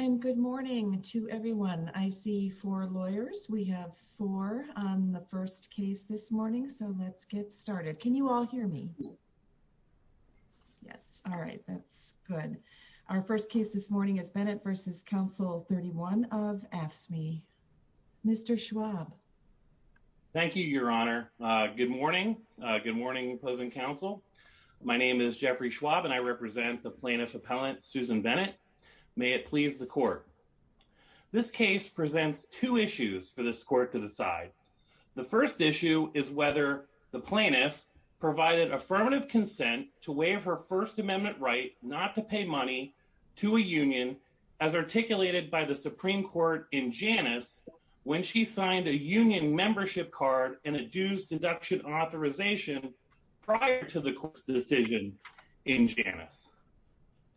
And good morning to everyone. I see four lawyers. We have four on the first case this morning, so let's get started. Can you all hear me? Yes. All right. That's good. Our first case this morning is Bennett v. Council 31 of AFSCME. Mr. Schwab. Thank you, Your Honor. Good morning. Good morning, opposing counsel. My name is Jeffrey Schwab, and I represent the plaintiff appellant Susan Bennett. May it please the court. This case presents two issues for this court to decide. The first issue is whether the plaintiff provided affirmative consent to waive her First Amendment right not to pay money to a union as articulated by the Supreme Court in Janus when she signed a union membership card and a dues deduction authorization prior to the court's decision in Janus.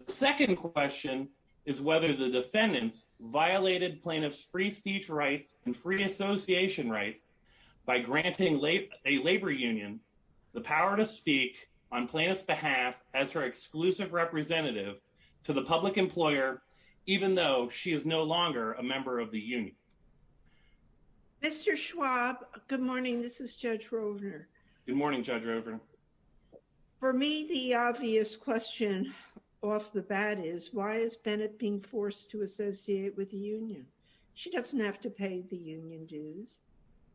The second question is whether the defendants violated plaintiff's free speech rights and free association rights by granting a labor union the power to speak on plaintiff's behalf as her exclusive representative to the public employer even though she is no longer a member of the union. Mr. Schwab, good morning. This is Judge Rovner. Good morning, Judge Rovner. For me, the obvious question off the bat is why is Bennett being forced to associate with the union? She doesn't have to pay the union dues.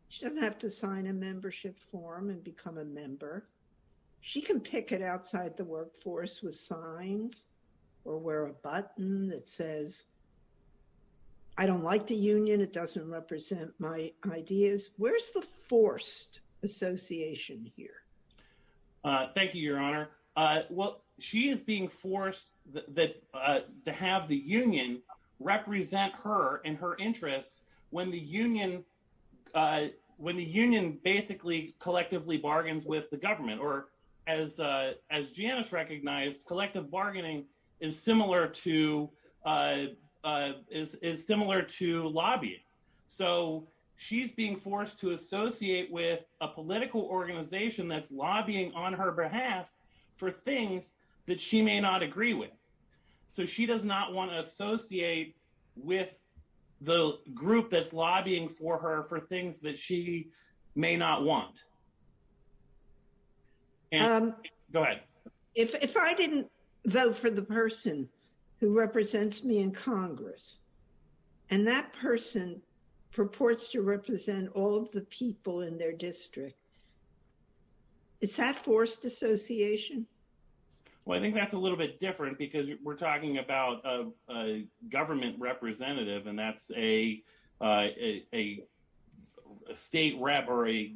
She doesn't have to sign a membership form and become a member. She can pick it outside the workforce with signs or wear a button that says I don't like the union. It doesn't represent my ideas. Where's the forced association here? Thank you, Your Honor. Well, she is being forced to have the union represent her and her interests when the union basically collectively bargains with the government. Or as Janus recognized, collective bargaining is similar to lobbying. So she's being forced to associate with a political organization that's lobbying on her behalf for things that she may not agree with. So she does not want to associate with the group that's lobbying for her for things that she may not want. Go ahead. If I didn't vote for the person who represents me in Congress and that person purports to represent all of the people in their district, is that forced association? Well, I think that's a little bit different because we're talking about a government representative and that's a state rep or a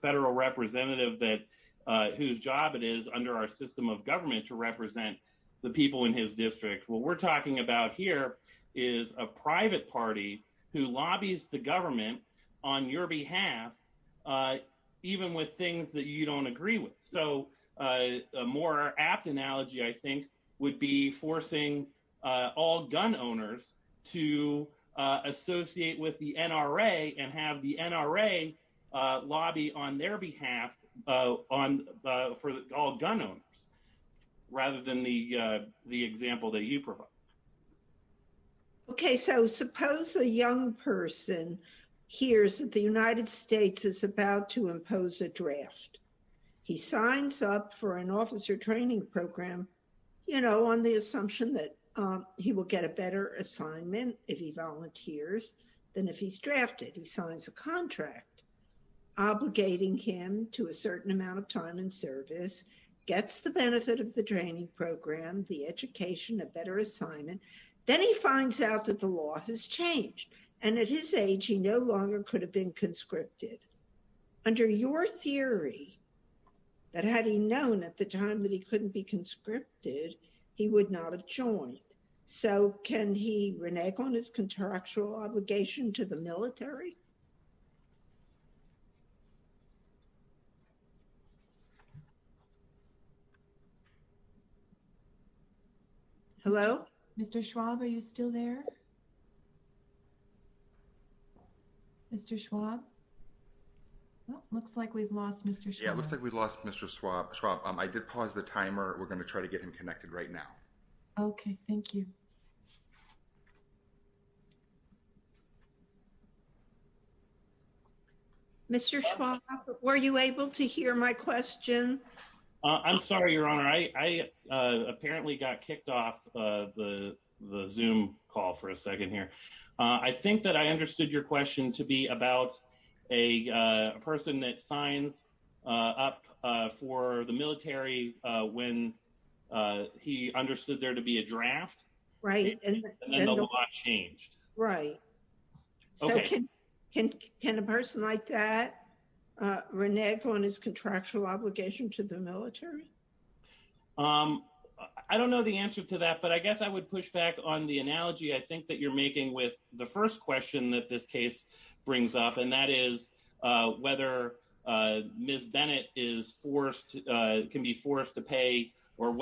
federal representative whose job it is under our system of government to represent the people in his district. What we're talking about here is a private party who lobbies the government on your behalf even with things that you don't agree with. So a more apt analogy, I think, would be forcing all gun owners to associate with the NRA and have the NRA lobby on their behalf for all gun owners rather than the example that you provide. Okay. So suppose a young person hears that the United States is about to impose a draft. He signs up for an officer training program on the assumption that he will get a better assignment if he volunteers than if he's drafted. He signs a contract obligating him to a certain amount of time in service, gets the benefit of the training program, the education, a better assignment, then he finds out that the law has changed and at his age he no longer could have been conscripted. Under your theory that had he known at the time that he couldn't be conscripted, he would not have joined. So can he renege on his contractual obligation to the military? Hello? Mr. Schwab, are you still there? Mr. Schwab? Looks like we've lost Mr. Schwab. Yeah, it looks like we've lost Mr. Schwab. I did pause the timer. We're going to try to get him connected right now. Okay, thank you. Mr. Schwab, were you able to hear my question? I'm sorry, Your Honor. I apparently got kicked off the Zoom call for a second here. I think that I understood your question to be about a person that signs up for the military when he understood there to be a draft. Right. And the law changed. Right. Okay. Can a person like that renege on his contractual obligation to the military? I don't know the answer to that, but I guess I would push back on the analogy I think that you're making with the first question that this case brings up, and that is whether Ms. Bennett is forced, can be forced to pay, or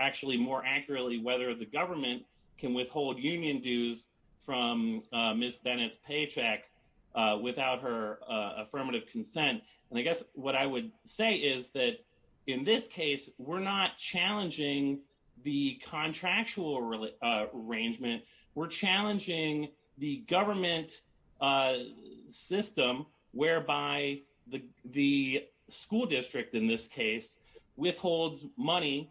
actually more accurately, whether the government can withhold union dues from Ms. Bennett's paycheck without her affirmative consent. And I guess what I would say is that in this case, we're not challenging the contractual arrangement. We're challenging the government system whereby the school district in this case withholds money,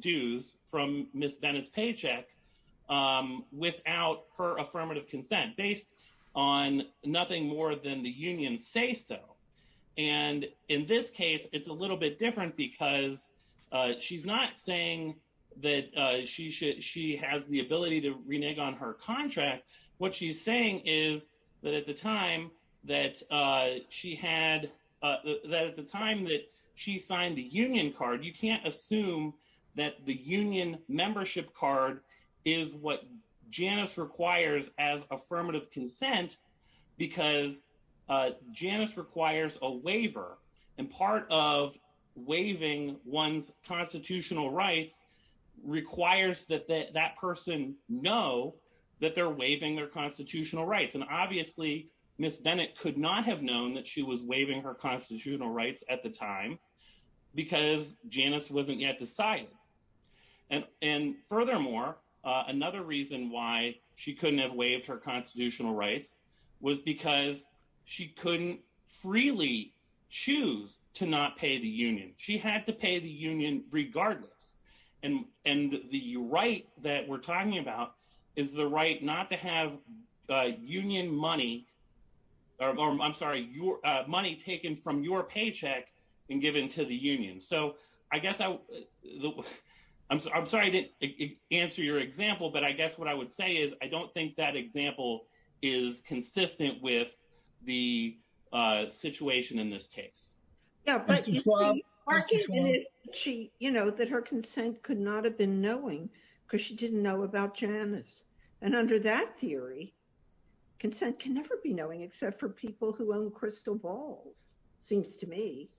dues, from Ms. Bennett's paycheck without her affirmative consent, based on nothing more than the union say so. And in this case, it's a little bit different because she's not saying that she has the ability to renege on her contract. What she's saying is that at the time that she signed the union card, you can't assume that the union membership card is what Janice requires as affirmative consent because Janice requires a waiver. And part of waiving one's constitutional rights requires that that person know that they're waiving their constitutional rights. And obviously, Ms. Bennett could not have known that she was waiving her constitutional rights at the time because Janice wasn't yet decided. And furthermore, another reason why she couldn't have waived her constitutional rights was because she couldn't freely choose to not pay the union. She had to pay the union regardless. And the right that we're talking about is the right not to have union money, I'm sorry, money taken from your paycheck and given to the union. So I guess I'm sorry I didn't answer your example, but I guess what I would say is I don't think that example is consistent with the situation in this case. You know, that her consent could not have been knowing because she didn't know about Janice. And under that theory, consent can never be knowing except for people who own crystal balls, seems to me.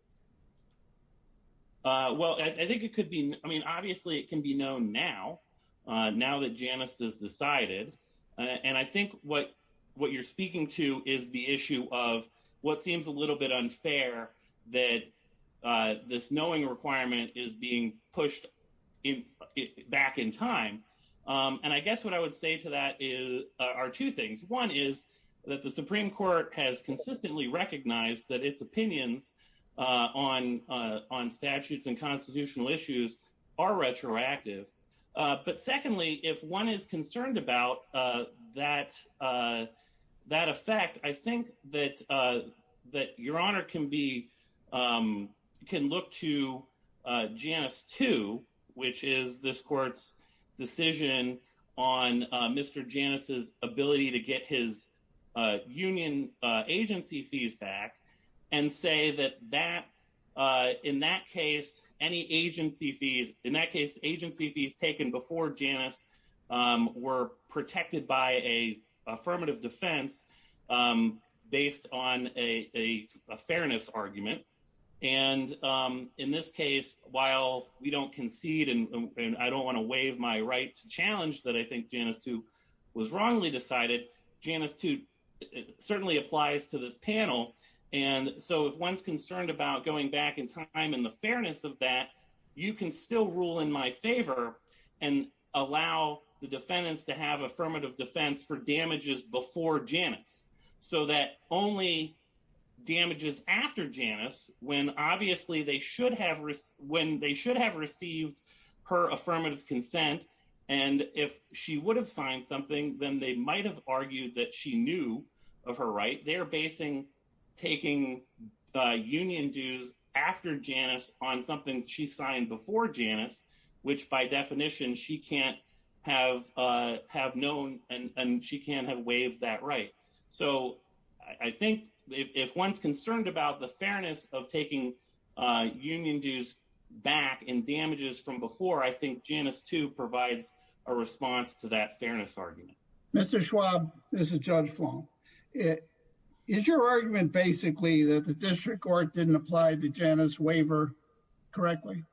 Well, I think it could be. I mean, obviously, it can be known now, now that Janice is decided. And I think what you're speaking to is the issue of what seems a little bit unfair that this knowing requirement is being pushed back in time. And I guess what I would say to that are two things. One is that the Supreme Court has consistently recognized that its opinions on statutes and constitutional issues are retroactive. But secondly, if one is concerned about that effect, I think that your honor can look to Janice too, which is this court's decision on Mr. Janice's ability to get his union agency fees back and say that in that case, any agency fees, in that case, agency fees taken before Janice were protected by a affirmative defense based on a fairness argument. And in this case, while we don't concede and I don't want to waive my right to challenge that I think Janice too was wrongly decided, Janice too certainly applies to this panel. And so if one's concerned about going back in time in the fairness of that, you can still rule in my favor and allow the defendants to have affirmative defense for damages before Janice so that only damages after Janice when obviously they should have received her affirmative consent. And if she would have signed something, then they might have argued that she knew of her right. They're basing taking the union dues after Janice on something she signed before Janice, which by definition she can't have known and she can't have waived that right. So I think if one's concerned about the fairness of taking union dues back in damages from before, I think Janice too provides a response to that fairness argument. Mr. Schwab, this is Judge Fong. Is your argument basically that the district court didn't apply the Janice waiver correctly?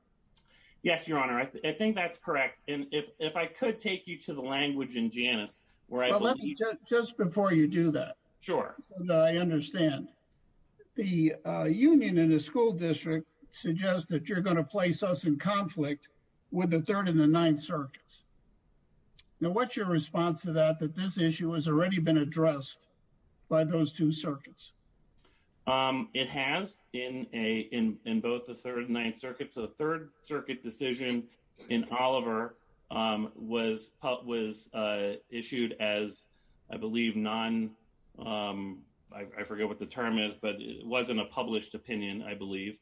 Yes, your honor. I think that's correct. And if I could take you to the language in Janice where I believe... Well, let me just before you do that. Sure. So that I understand. The union and the school district suggest that you're going to with the third and the ninth circuits. Now, what's your response to that, that this issue has already been addressed by those two circuits? It has in both the third and ninth circuits. The third circuit decision in Oliver was issued as I believe non... I forget what the term is, but it wasn't a published opinion, I believe.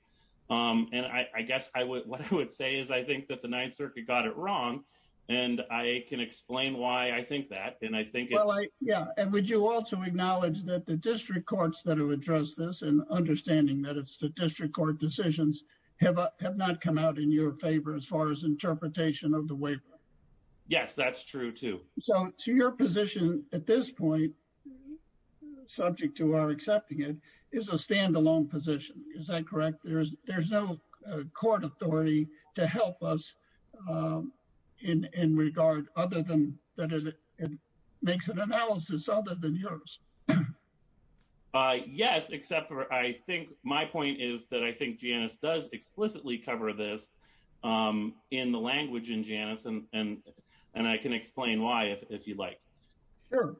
And I guess what I would say is I think that the ninth circuit got it wrong and I can explain why I think that. And I think... Well, yeah. And would you also acknowledge that the district courts that have addressed this and understanding that it's the district court decisions have not come out in your favor as far as interpretation of the waiver? Yes, that's true too. So to your position at this point, subject to our accepting it, is a standalone position. Is that correct? There's no court authority to help us in regard other than that it makes an analysis other than yours. Yes, except for I think my point is that I think Janice does if you'd like. Sure.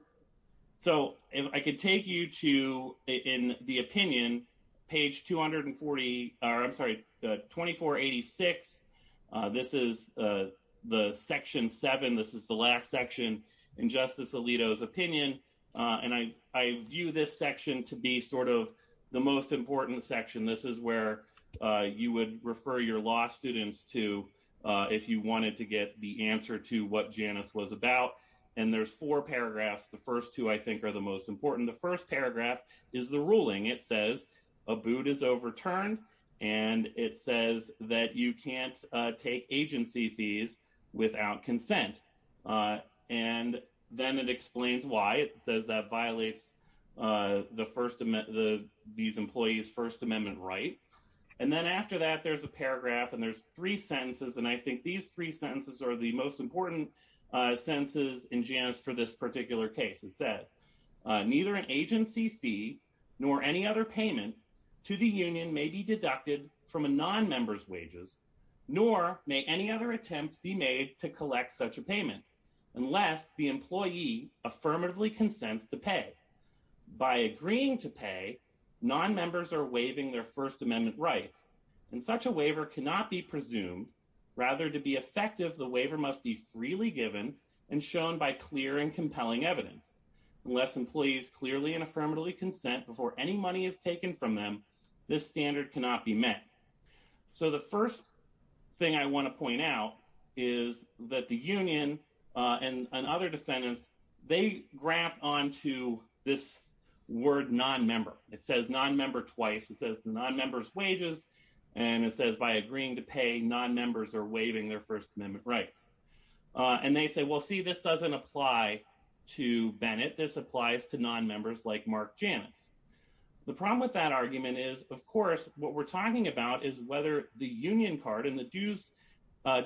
So if I could take you to in the opinion, page 240... I'm sorry, 2486. This is the section seven. This is the last section in Justice Alito's opinion. And I view this section to be sort of the most important section. This is where you would refer your law students to if you wanted to get the answer to what Janice was about. And there's four paragraphs. The first two, I think, are the most important. The first paragraph is the ruling. It says a boot is overturned and it says that you can't take agency fees without consent. And then it explains why. It says that violates these employees' First Amendment right. And then after that, there's a paragraph and there's three sentences. And I think these three sentences are the most important sentences in Janice for this particular case. It says, neither an agency fee nor any other payment to the union may be deducted from a non-member's wages, nor may any other attempt be made to collect such a payment unless the employee affirmatively consents to pay. By agreeing to pay, non-members are waiving their First Amendment rights. And such a waiver cannot be presumed. Rather, to be effective, the waiver must be freely given and shown by clear and compelling evidence. Unless employees clearly and affirmatively consent before any money is taken from them, this standard cannot be met. So the first thing I want to point out is that the union and other defendants, they graft onto this word non-member. It says non-member twice. It says non-member's wages. And it says by agreeing to pay, non-members are waiving their First Amendment rights. And they say, well, see, this doesn't apply to Bennett. This applies to non-members like Mark Janice. The problem with that argument is, of course, what we're talking about is whether the union card and the dues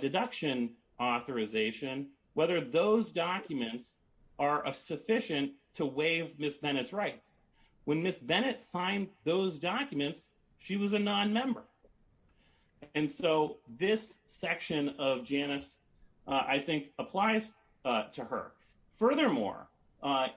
deduction authorization, whether those documents are sufficient to waive Ms. Bennett's rights. When Ms. Bennett signed those documents, she was a non-member. And so this section of Janice, I think, applies to her. Furthermore,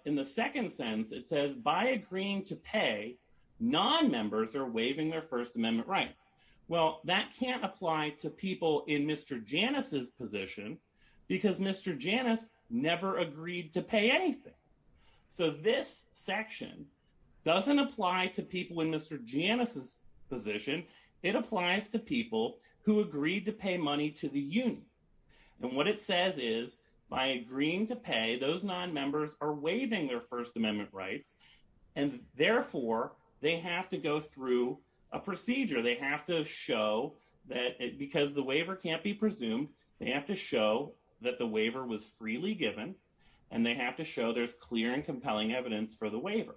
in the second sense, it says by agreeing to pay, non-members are waiving their First Amendment rights. Well, that can't apply to people in Mr. Janice's position because Mr. Janice never agreed to pay anything. So this section doesn't apply to people in Mr. Janice's position. It applies to people who agreed to pay money to the union. And what it says is, by agreeing to pay, those non-members are waiving their First Amendment rights. And therefore, they have to go through a procedure. They have to show that because the waiver can't be presumed, they have to show that the waiver was freely given, and they have to show there's clear and compelling evidence for the waiver.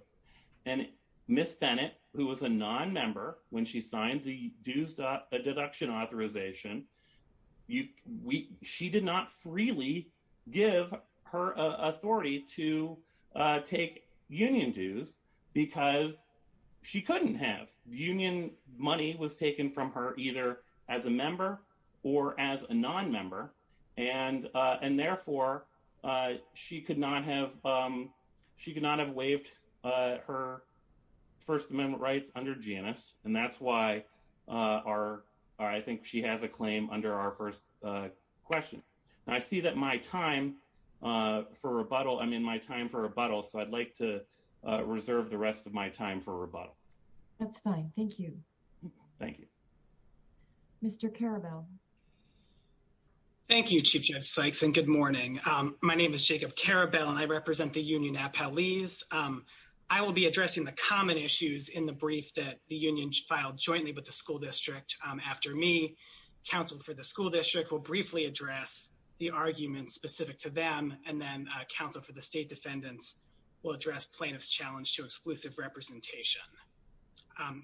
And Ms. Bennett, who was a non-member when she signed the dues deduction authorization, she did not freely give her authority to take union dues because she couldn't have. Union money was taken from her either as a member or as a non-member. And therefore, she could not have waived her First Amendment rights under Janice. And that's why I think she has a claim under our first question. Now, I see that my time for rebuttal, I'm in my time for rebuttal, so I'd like to reserve the rest of my time for rebuttal. That's fine. Thank you. Thank you. Mr. Karabel. Thank you, Chief Judge Sykes, and good morning. My name is Jacob Karabel, and I represent the union at Paulese. I will be addressing the common issues in the brief that the union filed jointly with the school district after me. Counsel for the school district will briefly address the arguments specific to them, and then counsel for the state defendants will address plaintiff's challenge to exclusive representation.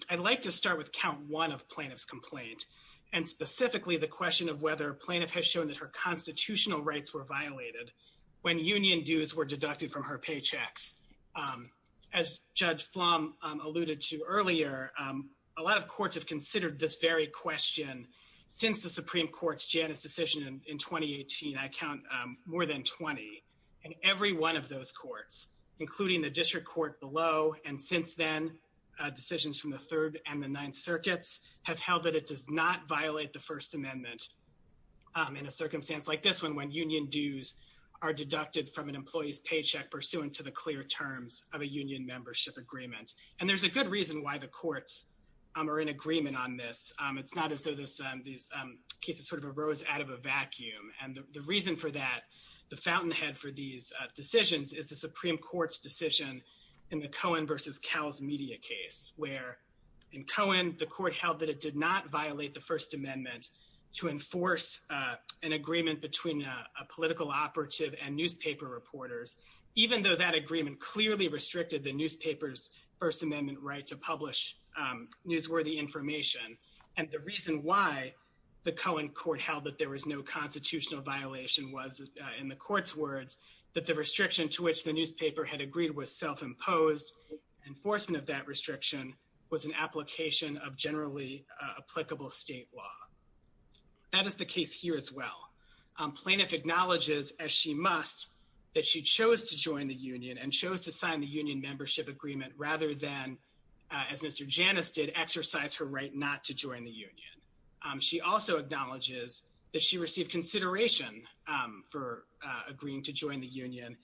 I'd like to start with count one of plaintiff's complaint, and specifically the question of whether plaintiff has shown that her constitutional rights were violated when union dues were deducted from her paychecks. As Judge Flom alluded to earlier, a lot of courts have considered this very question since the Supreme Court's Janice decision in 2018. I count more than 20, and every one of those courts, including the district court below, and since then, decisions from the Third and the Ninth Circuits have held that it does not violate the First Amendment in a circumstance like this one, when union dues are deducted from an employee's paycheck pursuant to the clear terms of a union membership agreement. And there's a good reason why the courts are in agreement on this. It's not as though these cases sort of rose out of a vacuum, and the reason for that, the fountainhead for these decisions, is the Supreme Court's decision in the Cohen versus Cowles media case, where in Cohen, the court held that it did not violate the First Amendment to enforce an agreement between a political operative and newspaper reporters, even though that agreement clearly restricted the newspaper's First Amendment right to publish newsworthy information. And the reason why the Cohen court held that there was no had agreed was self-imposed. Enforcement of that restriction was an application of generally applicable state law. That is the case here as well. Plaintiff acknowledges, as she must, that she chose to join the union and chose to sign the union membership agreement rather than, as Mr. Janice did, exercise her right not to join the union. She also acknowledges that she received consideration for agreeing to join the union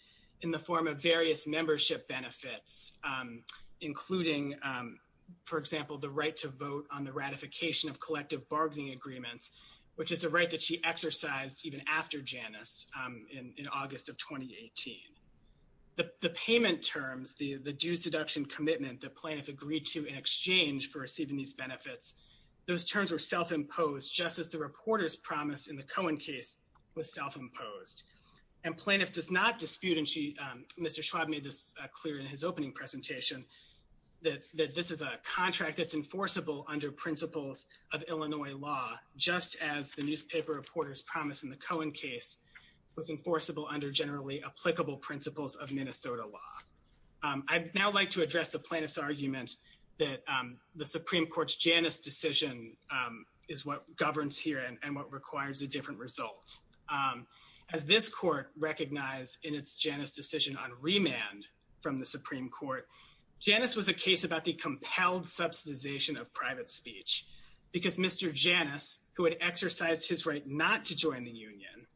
in the form of various membership benefits, including, for example, the right to vote on the ratification of collective bargaining agreements, which is a right that she exercised even after Janice in August of 2018. The payment terms, the dues deduction commitment that plaintiff agreed to in exchange for receiving these benefits, those terms were self-imposed, just as the reporter's promise in the Cohen case was self-imposed. And plaintiff does not dispute, and Mr. Schwab made this clear in his opening presentation, that this is a contract that's enforceable under principles of Illinois law, just as the newspaper reporter's promise in the Cohen case was enforceable under generally applicable principles of Minnesota law. I'd now like to address the plaintiff's argument that the Supreme Court's Janice decision is what governs here and what requires a different result. As this court recognized in its Janice decision on remand from the Supreme Court, Janice was a case about the compelled subsidization of private speech, because Mr. Janice, who had exercised his right not to join the union,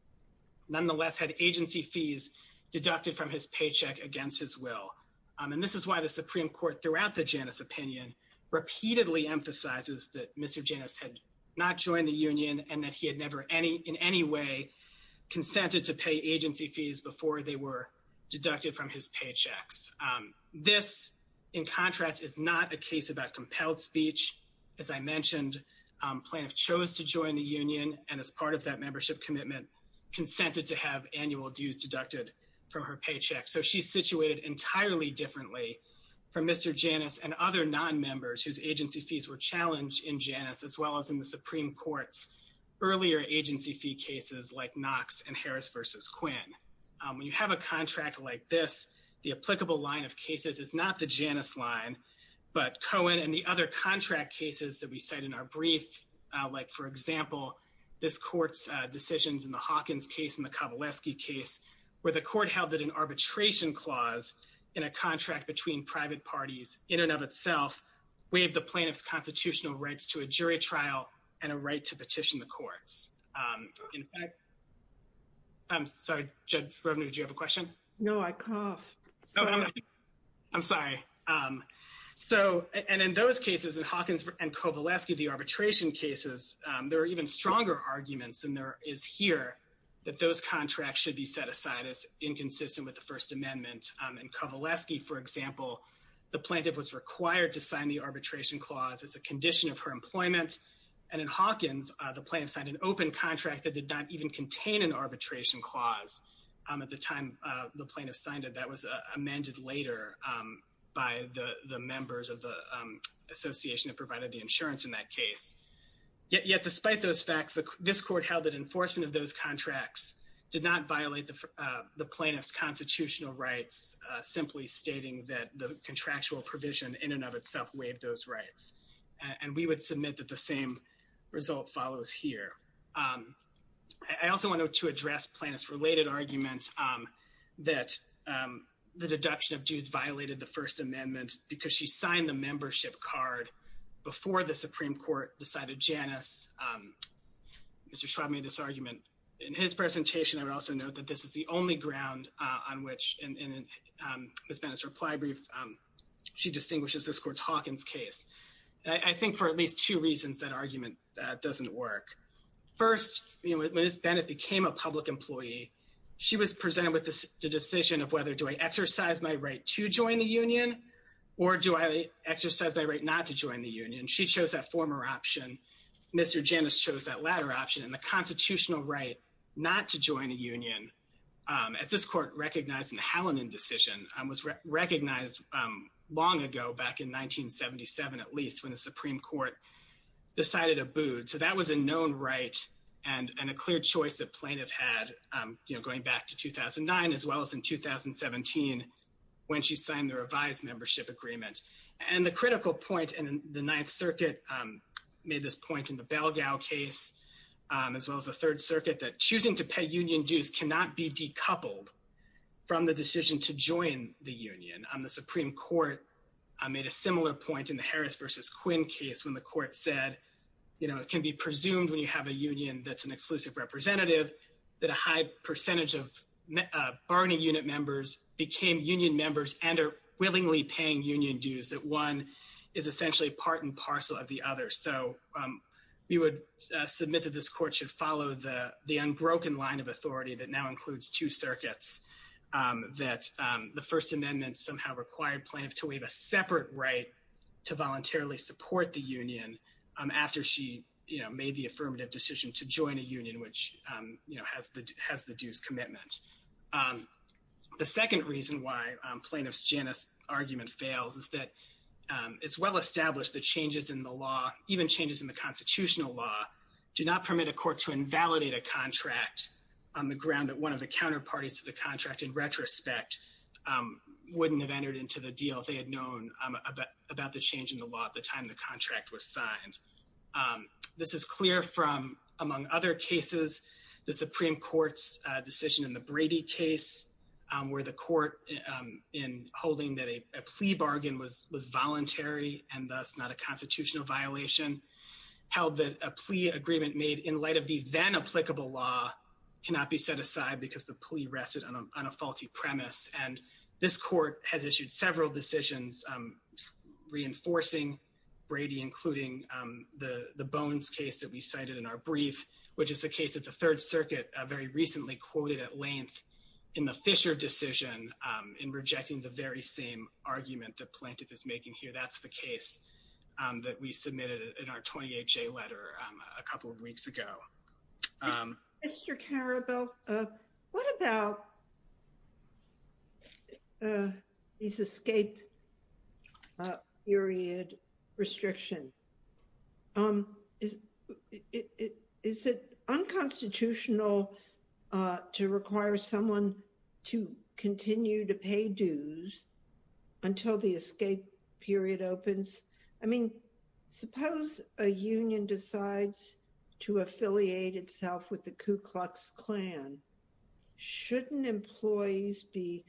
nonetheless had agency fees deducted from his paycheck against his will. And this is why the Supreme Court throughout the Janice opinion repeatedly emphasizes that Mr. Janice had not joined the union and that he had never in any way consented to pay agency fees before they were deducted from his paychecks. This, in contrast, is not a case about compelled speech. As I mentioned, plaintiff chose to join the union, and as part of that membership commitment, consented to have annual dues deducted from her paycheck. So she's situated entirely differently from Mr. Janice and other non-members whose agency fees were challenged in Janice, as well as in the Supreme Court's earlier agency fee cases like Knox and Harris v. Quinn. When you have a contract like this, the applicable line of cases is not the Janice line, but Cohen and the other contract cases that we cite in our brief, like for example, this court's decisions in the Hawkins case and the Kovaleski case, where the court held that an arbitration clause in a contract between private parties in and of itself waived the plaintiff's constitutional rights to a jury trial and a right to petition the courts. In fact, I'm sorry, Judge Rovner, did you have a question? No, I can't. I'm sorry. So, and in those cases, in Hawkins and Kovaleski, the arbitration cases, there are even stronger arguments than there is here that those contracts should be set aside as inconsistent with the First Amendment. In Kovaleski, for example, the plaintiff was required to sign the arbitration clause as a condition of her employment. And in Hawkins, the plaintiff signed an open contract that did not even contain an arbitration clause. At the time the plaintiff signed it, that was amended later by the members of the insurance in that case. Yet despite those facts, this court held that enforcement of those contracts did not violate the plaintiff's constitutional rights, simply stating that the contractual provision in and of itself waived those rights. And we would submit that the same result follows here. I also wanted to address plaintiff's related argument that the deduction of dues violated the Supreme Court, decided Janus. Mr. Schwab made this argument in his presentation. I would also note that this is the only ground on which, in Ms. Bennett's reply brief, she distinguishes this court's Hawkins case. I think for at least two reasons that argument doesn't work. First, you know, when Ms. Bennett became a public employee, she was presented with this decision of whether do I exercise my right to join the union or do I exercise my right not to join the union. And so, you know, Ms. Bennett chose that former option. Mr. Janus chose that latter option. And the constitutional right not to join a union, as this court recognized in the Hallinan decision, was recognized long ago, back in 1977, at least, when the Supreme Court decided to abode. So that was a known right and a clear choice the plaintiff had, you know, going back to 2009, as well as in 2017, when she signed the revised membership agreement. And the critical point in the Ninth Circuit made this point in the Belgao case, as well as the Third Circuit, that choosing to pay union dues cannot be decoupled from the decision to join the union. The Supreme Court made a similar point in the Harris versus Quinn case, when the court said, you know, it can be presumed when you have a union that's an exclusive representative, that a high percentage of bargaining unit members became union members and are willingly paying union dues, that one is essentially part and parcel of the other. So we would submit that this court should follow the unbroken line of authority that now includes two circuits, that the First Amendment somehow required plaintiff to a union, which, you know, has the dues commitment. The second reason why plaintiff's Janus argument fails is that it's well established that changes in the law, even changes in the constitutional law, do not permit a court to invalidate a contract on the ground that one of the counterparties to the contract, in retrospect, wouldn't have entered into the deal if they had known about the change in the law at the time the contract was signed. This is clear from, among other cases, the Supreme Court's decision in the Brady case, where the court, in holding that a plea bargain was voluntary and thus not a constitutional violation, held that a plea agreement made in light of the then applicable law cannot be set aside because the plea rested on a faulty premise. And this court has issued several decisions reinforcing Brady, including the Bones case that we cited in our brief, which is the case that the Third Circuit very recently quoted at length in the Fisher decision in rejecting the very same argument that plaintiff is making here. That's the case that we submitted in our 28-J letter a couple of weeks ago. Mr. Carabell, what about these escape period restrictions? Is it unconstitutional to require someone to continue to pay dues until the escape period opens? I mean, suppose a union decides to affiliate itself with Ku Klux Klan. Shouldn't employees be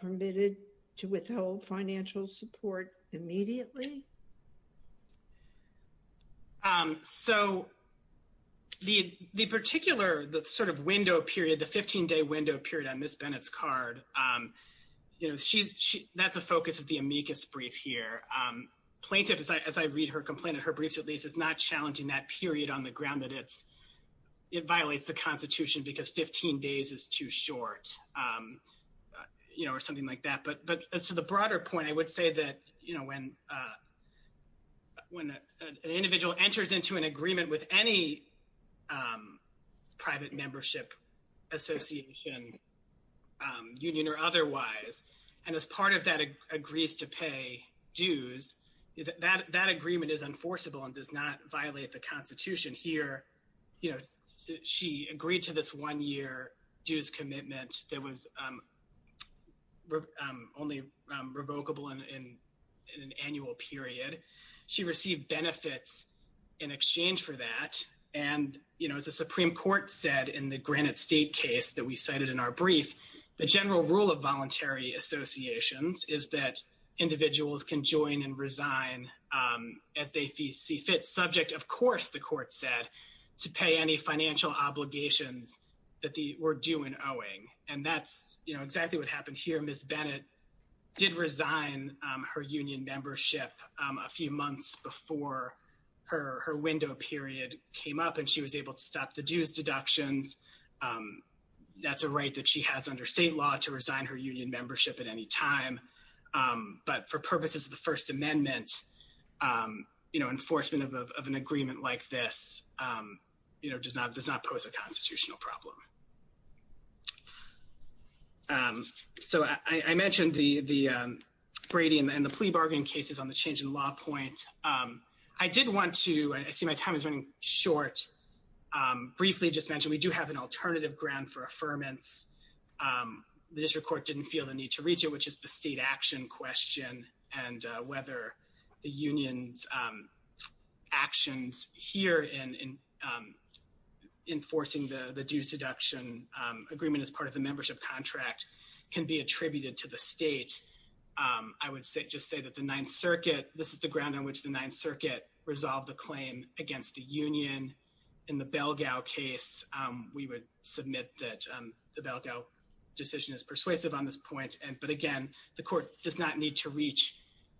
permitted to withhold financial support immediately? So the particular sort of window period, the 15-day window period on Ms. Bennett's card, that's a focus of the amicus brief here. Plaintiff, as I read her complaint in her briefs is not challenging that period on the ground that it violates the Constitution because 15 days is too short or something like that. But as to the broader point, I would say that when an individual enters into an agreement with any private membership association, union or otherwise, and as part of that agrees to pay dues, that agreement is enforceable and does not violate the Constitution. Here, she agreed to this one-year dues commitment that was only revocable in an annual period. She received benefits in exchange for that. And as the Supreme Court said in the Granite State case that we cited in our brief, the general rule of voluntary associations is that individuals can join and resign as they see fit, subject, of course, the court said, to pay any financial obligations that were due in owing. And that's exactly what happened here. Ms. Bennett did resign her union membership a few months before her window period came up, and she was able to stop the dues deductions. That's a right that she has under state law to resign her union membership at any time. But for purposes of the First Amendment, you know, enforcement of an agreement like this, you know, does not pose a constitutional problem. So I mentioned the Brady and the plea bargaining cases on the change in law point. I did want to, I see my time is running short, briefly just mention we do have an alternative ground for affirmance. The district court didn't feel the need to reach it, which is the state action question and whether the union's actions here in enforcing the dues deduction agreement as part of the membership contract can be attributed to the state. I would just say that the Ninth Circuit resolved the claim against the union. In the Belgao case, we would submit that the Belgao decision is persuasive on this point. But again, the court does not need to reach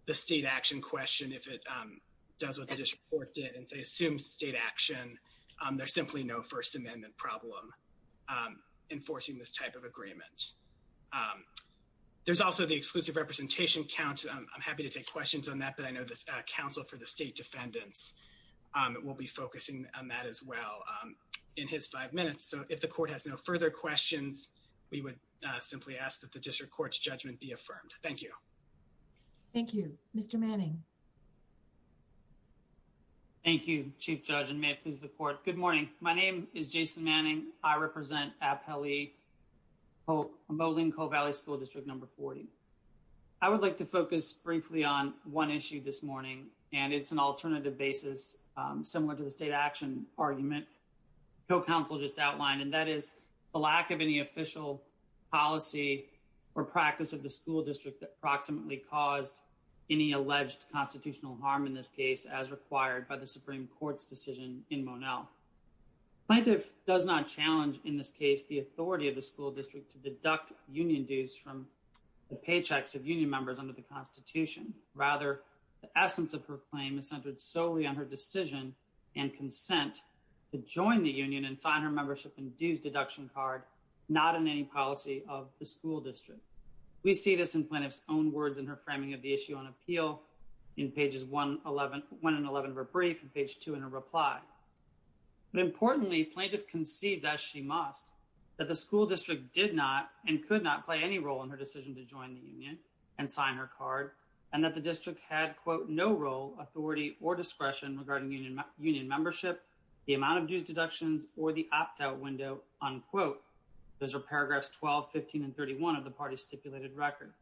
the state action question if it does what the district court did and, say, assumes state action. There's simply no First Amendment problem enforcing this type of agreement. There's also the exclusive representation count. I'm happy to take questions on that, but I know the counsel for the state defendants will be focusing on that as well in his five minutes. So if the court has no further questions, we would simply ask that the district court's judgment be affirmed. Thank you. Thank you. Mr. Manning. Thank you, Chief Judge, and may it please the court. Good morning. My name is Jason Manning. I represent Apele Moline Cove Valley School District Number 40. I would like to focus briefly on one issue this morning, and it's an alternative basis similar to the state action argument the counsel just outlined, and that is the lack of any official policy or practice of the school district that approximately caused any alleged constitutional harm in this case as acquired by the Supreme Court's decision in Monell. Plaintiff does not challenge in this case the authority of the school district to deduct union dues from the paychecks of union members under the Constitution. Rather, the essence of her claim is centered solely on her decision and consent to join the union and sign her membership and dues deduction card, not in any policy of the school district. We see this in Plaintiff's own words in her framing of issue on Apele in pages 1 and 11 of her brief and page 2 in her reply. But importantly, Plaintiff concedes, as she must, that the school district did not and could not play any role in her decision to join the union and sign her card and that the district had, quote, no role, authority, or discretion regarding union membership, the amount of dues deductions, or the opt-out window, unquote. Those are paragraphs 12, 15, and 31 of the party's stipulated record.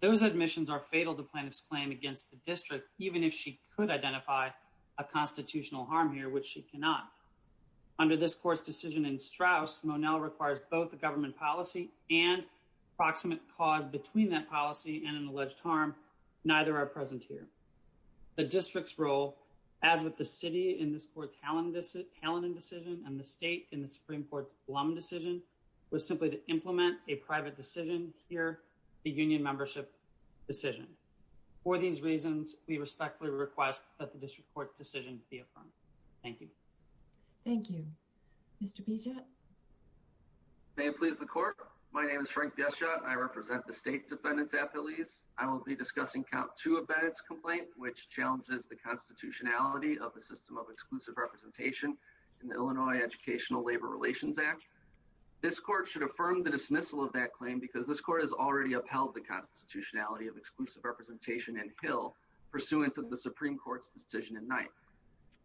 Those admissions are fatal to Plaintiff's claim against the district, even if she could identify a constitutional harm here, which she cannot. Under this court's decision in Straus, Monell requires both the government policy and proximate cause between that policy and an alleged harm. Neither are present here. The district's role, as with the city in this court's Hallinan decision and the state in the Supreme Court's Blum decision, was simply to implement a private decision here, the union membership decision. For these reasons, we respectfully request that the district court's decision be affirmed. Thank you. Thank you. Mr. Bichette. May it please the court, my name is Frank Bichette. I represent the state defendants' appellees. I will be discussing count 2 of Bennett's complaint, which challenges the constitutionality of a system of exclusive representation in the Illinois Educational Labor Relations Act. This court should affirm the dismissal of that claim because this court has already upheld the constitutionality of exclusive representation in Hill pursuant to the Supreme Court's decision in Knight.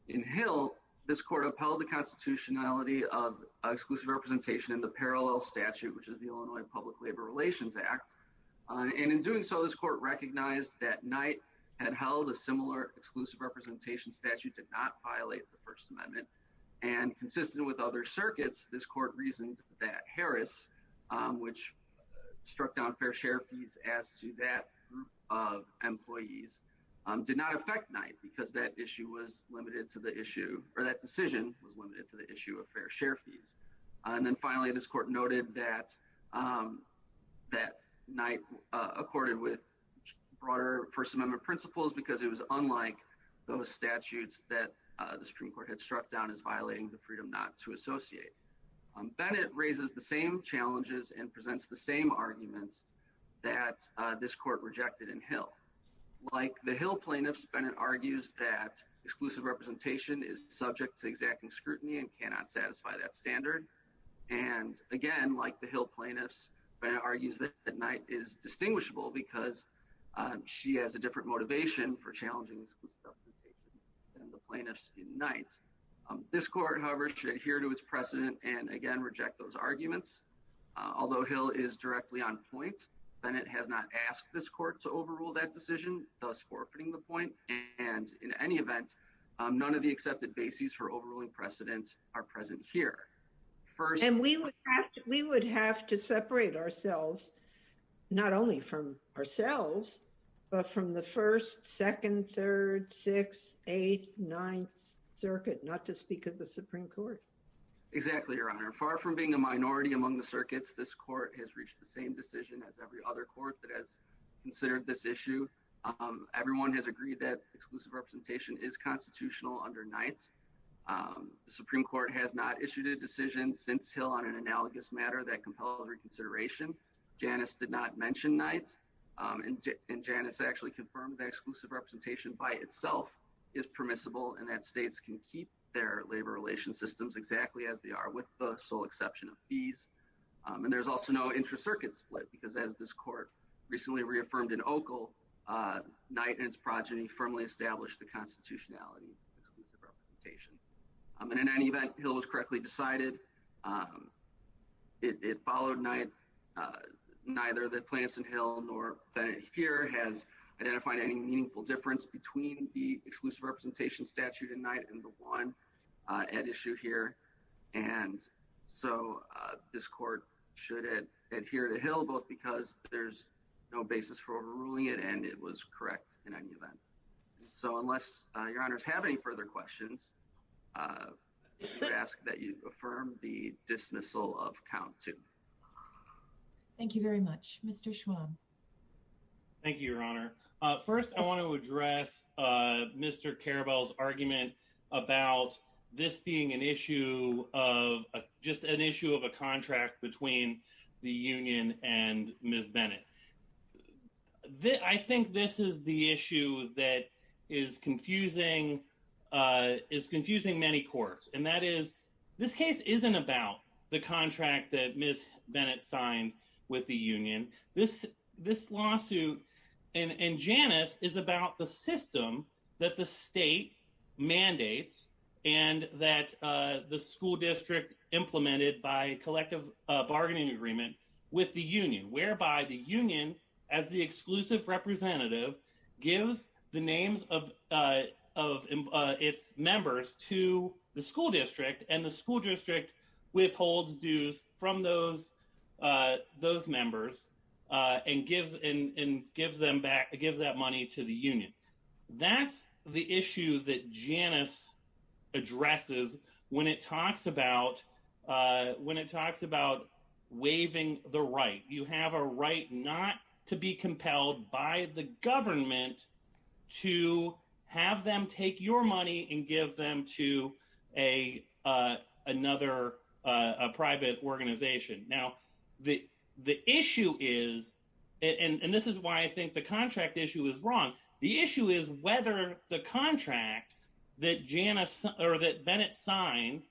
In Hill, this court upheld the constitutionality of exclusive representation in the parallel statute, which is the Illinois Public Labor Relations Act. And in doing so, this court recognized that Knight had held a similar exclusive representation statute to not violate the First Amendment. And consistent with other circuits, this court reasoned that Harris, which struck down fair share fees as to that group of employees, did not affect Knight because that issue was limited to the issue, or that decision was limited to the issue of fair share fees. And then finally, this court noted that Knight accorded with broader First Amendment principles because it was unlike those statutes that the Supreme Court had struck down as violating the freedom not to associate. Bennett raises the same challenges and presents the same arguments that this court rejected in Hill. Like the Hill plaintiffs, Bennett argues that exclusive representation is subject to exacting scrutiny and cannot satisfy that standard. And again, like the Hill plaintiffs, Bennett argues that Knight is distinguishable because she has a different motivation for the plaintiffs in Knight. This court, however, should adhere to its precedent and again, reject those arguments. Although Hill is directly on point, Bennett has not asked this court to overrule that decision, thus forfeiting the point. And in any event, none of the accepted bases for overruling precedent are present here. And we would have to separate ourselves, not only from ourselves, but from the 1st, 2nd, 3rd, 6th, 8th, 9th circuit, not to speak of the Supreme Court. Exactly, Your Honor. Far from being a minority among the circuits, this court has reached the same decision as every other court that has considered this issue. Everyone has agreed that exclusive representation is constitutional under Knight. The Supreme Court has not issued a decision since Hill on an analogous matter that compelled reconsideration. Janice did not mention Knight. And Janice actually confirmed that exclusive representation by itself is permissible and that states can keep their labor relations systems exactly as they are with the sole exception of fees. And there's also no intra-circuit split because as this court recently reaffirmed in Ockel, Knight and its progeny firmly established the constitutionality of exclusive representation. In any event, Hill was correctly decided. It followed Knight. Neither the Plants and Hill nor Bennett here has identified any meaningful difference between the exclusive representation statute in Knight and the one at issue here. And so this court should adhere to Hill both because there's no basis for overruling it and it was correct in any event. So unless Your Honors have any further questions, I would ask that you affirm the dismissal of count two. Thank you very much. Mr. Schwab. Thank you, Your Honor. First, I want to address Mr. Carabell's argument about this being an issue of just an issue of a contract between the union and Ms. Bennett. I think this is the issue that is confusing many courts and that is this case isn't about the contract that Ms. Bennett signed with the union. This lawsuit and Janus is about the system that the state mandates and that the school district implemented by collective bargaining agreement with the union, whereby the union as the exclusive representative gives the names of its members to the school district and the school district withholds dues from those members and gives that money to the union. That's the issue that Janus addresses when it talks about waiving the right. You have a right not to be compelled by the government to have them take your money and give them to another private organization. Now, the issue is, and this is why I think the contract issue is wrong, the issue is whether the contract that Janus or that Bennett signed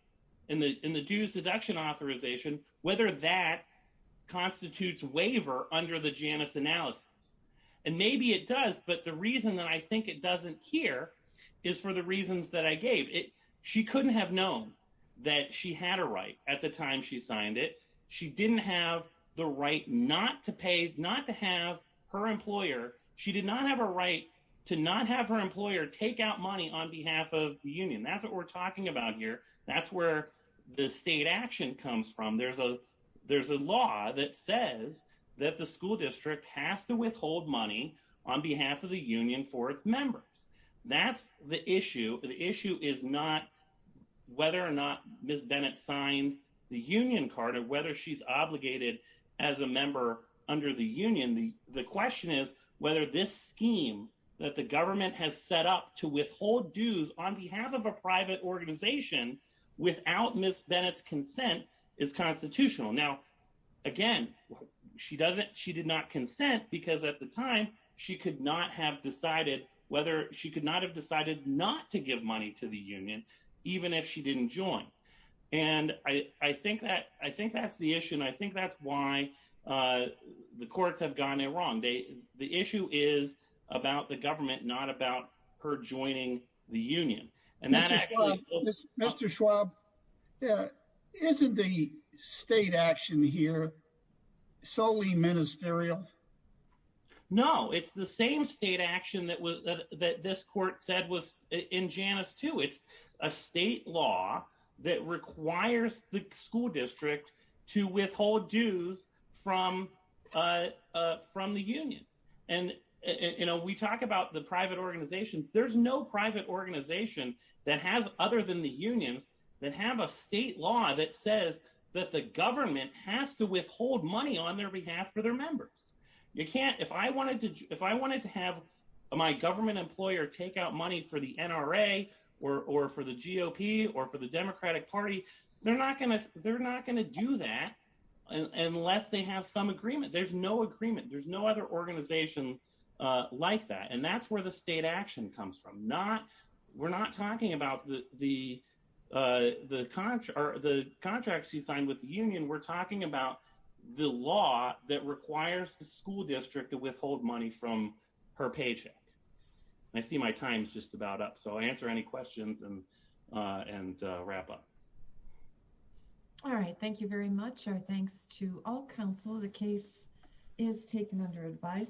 in the dues deduction authorization, whether that constitutes waiver under the Janus analysis. And maybe it does, but the reason that I think it doesn't here is for the reasons that I gave. She couldn't have known that she had a right at the time she signed it. She didn't have the right not to pay, not to have her employer, she did not have a right to not have her employer take out money on behalf of the union. That's what we're talking about here. That's where the state action comes from. There's a law that says that the school district has to withhold money on behalf of the union for its members. That's the issue. The issue is not whether or not Ms. Bennett signed the union card or whether she's obligated as a member under the union. The question is whether this scheme that the government has set up to withhold dues on behalf of a private organization without Ms. Bennett's consent is constitutional. Now, again, she did not consent because at the time she could not have decided whether, she could not have decided not to give money to the union, even if she didn't join. And I think that's the issue. And I think that's why the courts have gone there wrong. The issue is about the government, not about her joining the union. And that actually- Mr. Schwab, isn't the state action here solely ministerial? No, it's the same state action that this court said was in Janus too. It's a state law that requires the school district to withhold dues from the union. And we talk about the private organizations. There's no private organization that has, other than the unions, that have a state law that says that the government has to withhold money on their behalf for their members. You can't- if I wanted to have my government employer take out money for the NRA or for the NRA, they're not going to do that unless they have some agreement. There's no agreement. There's no other organization like that. And that's where the state action comes from. We're not talking about the contract she signed with the union. We're talking about the law that requires the school district to withhold money from her paycheck. I see my time's just about up, I'll answer any questions and wrap up. All right. Thank you very much. Our thanks to all counsel. The case is taken under advice.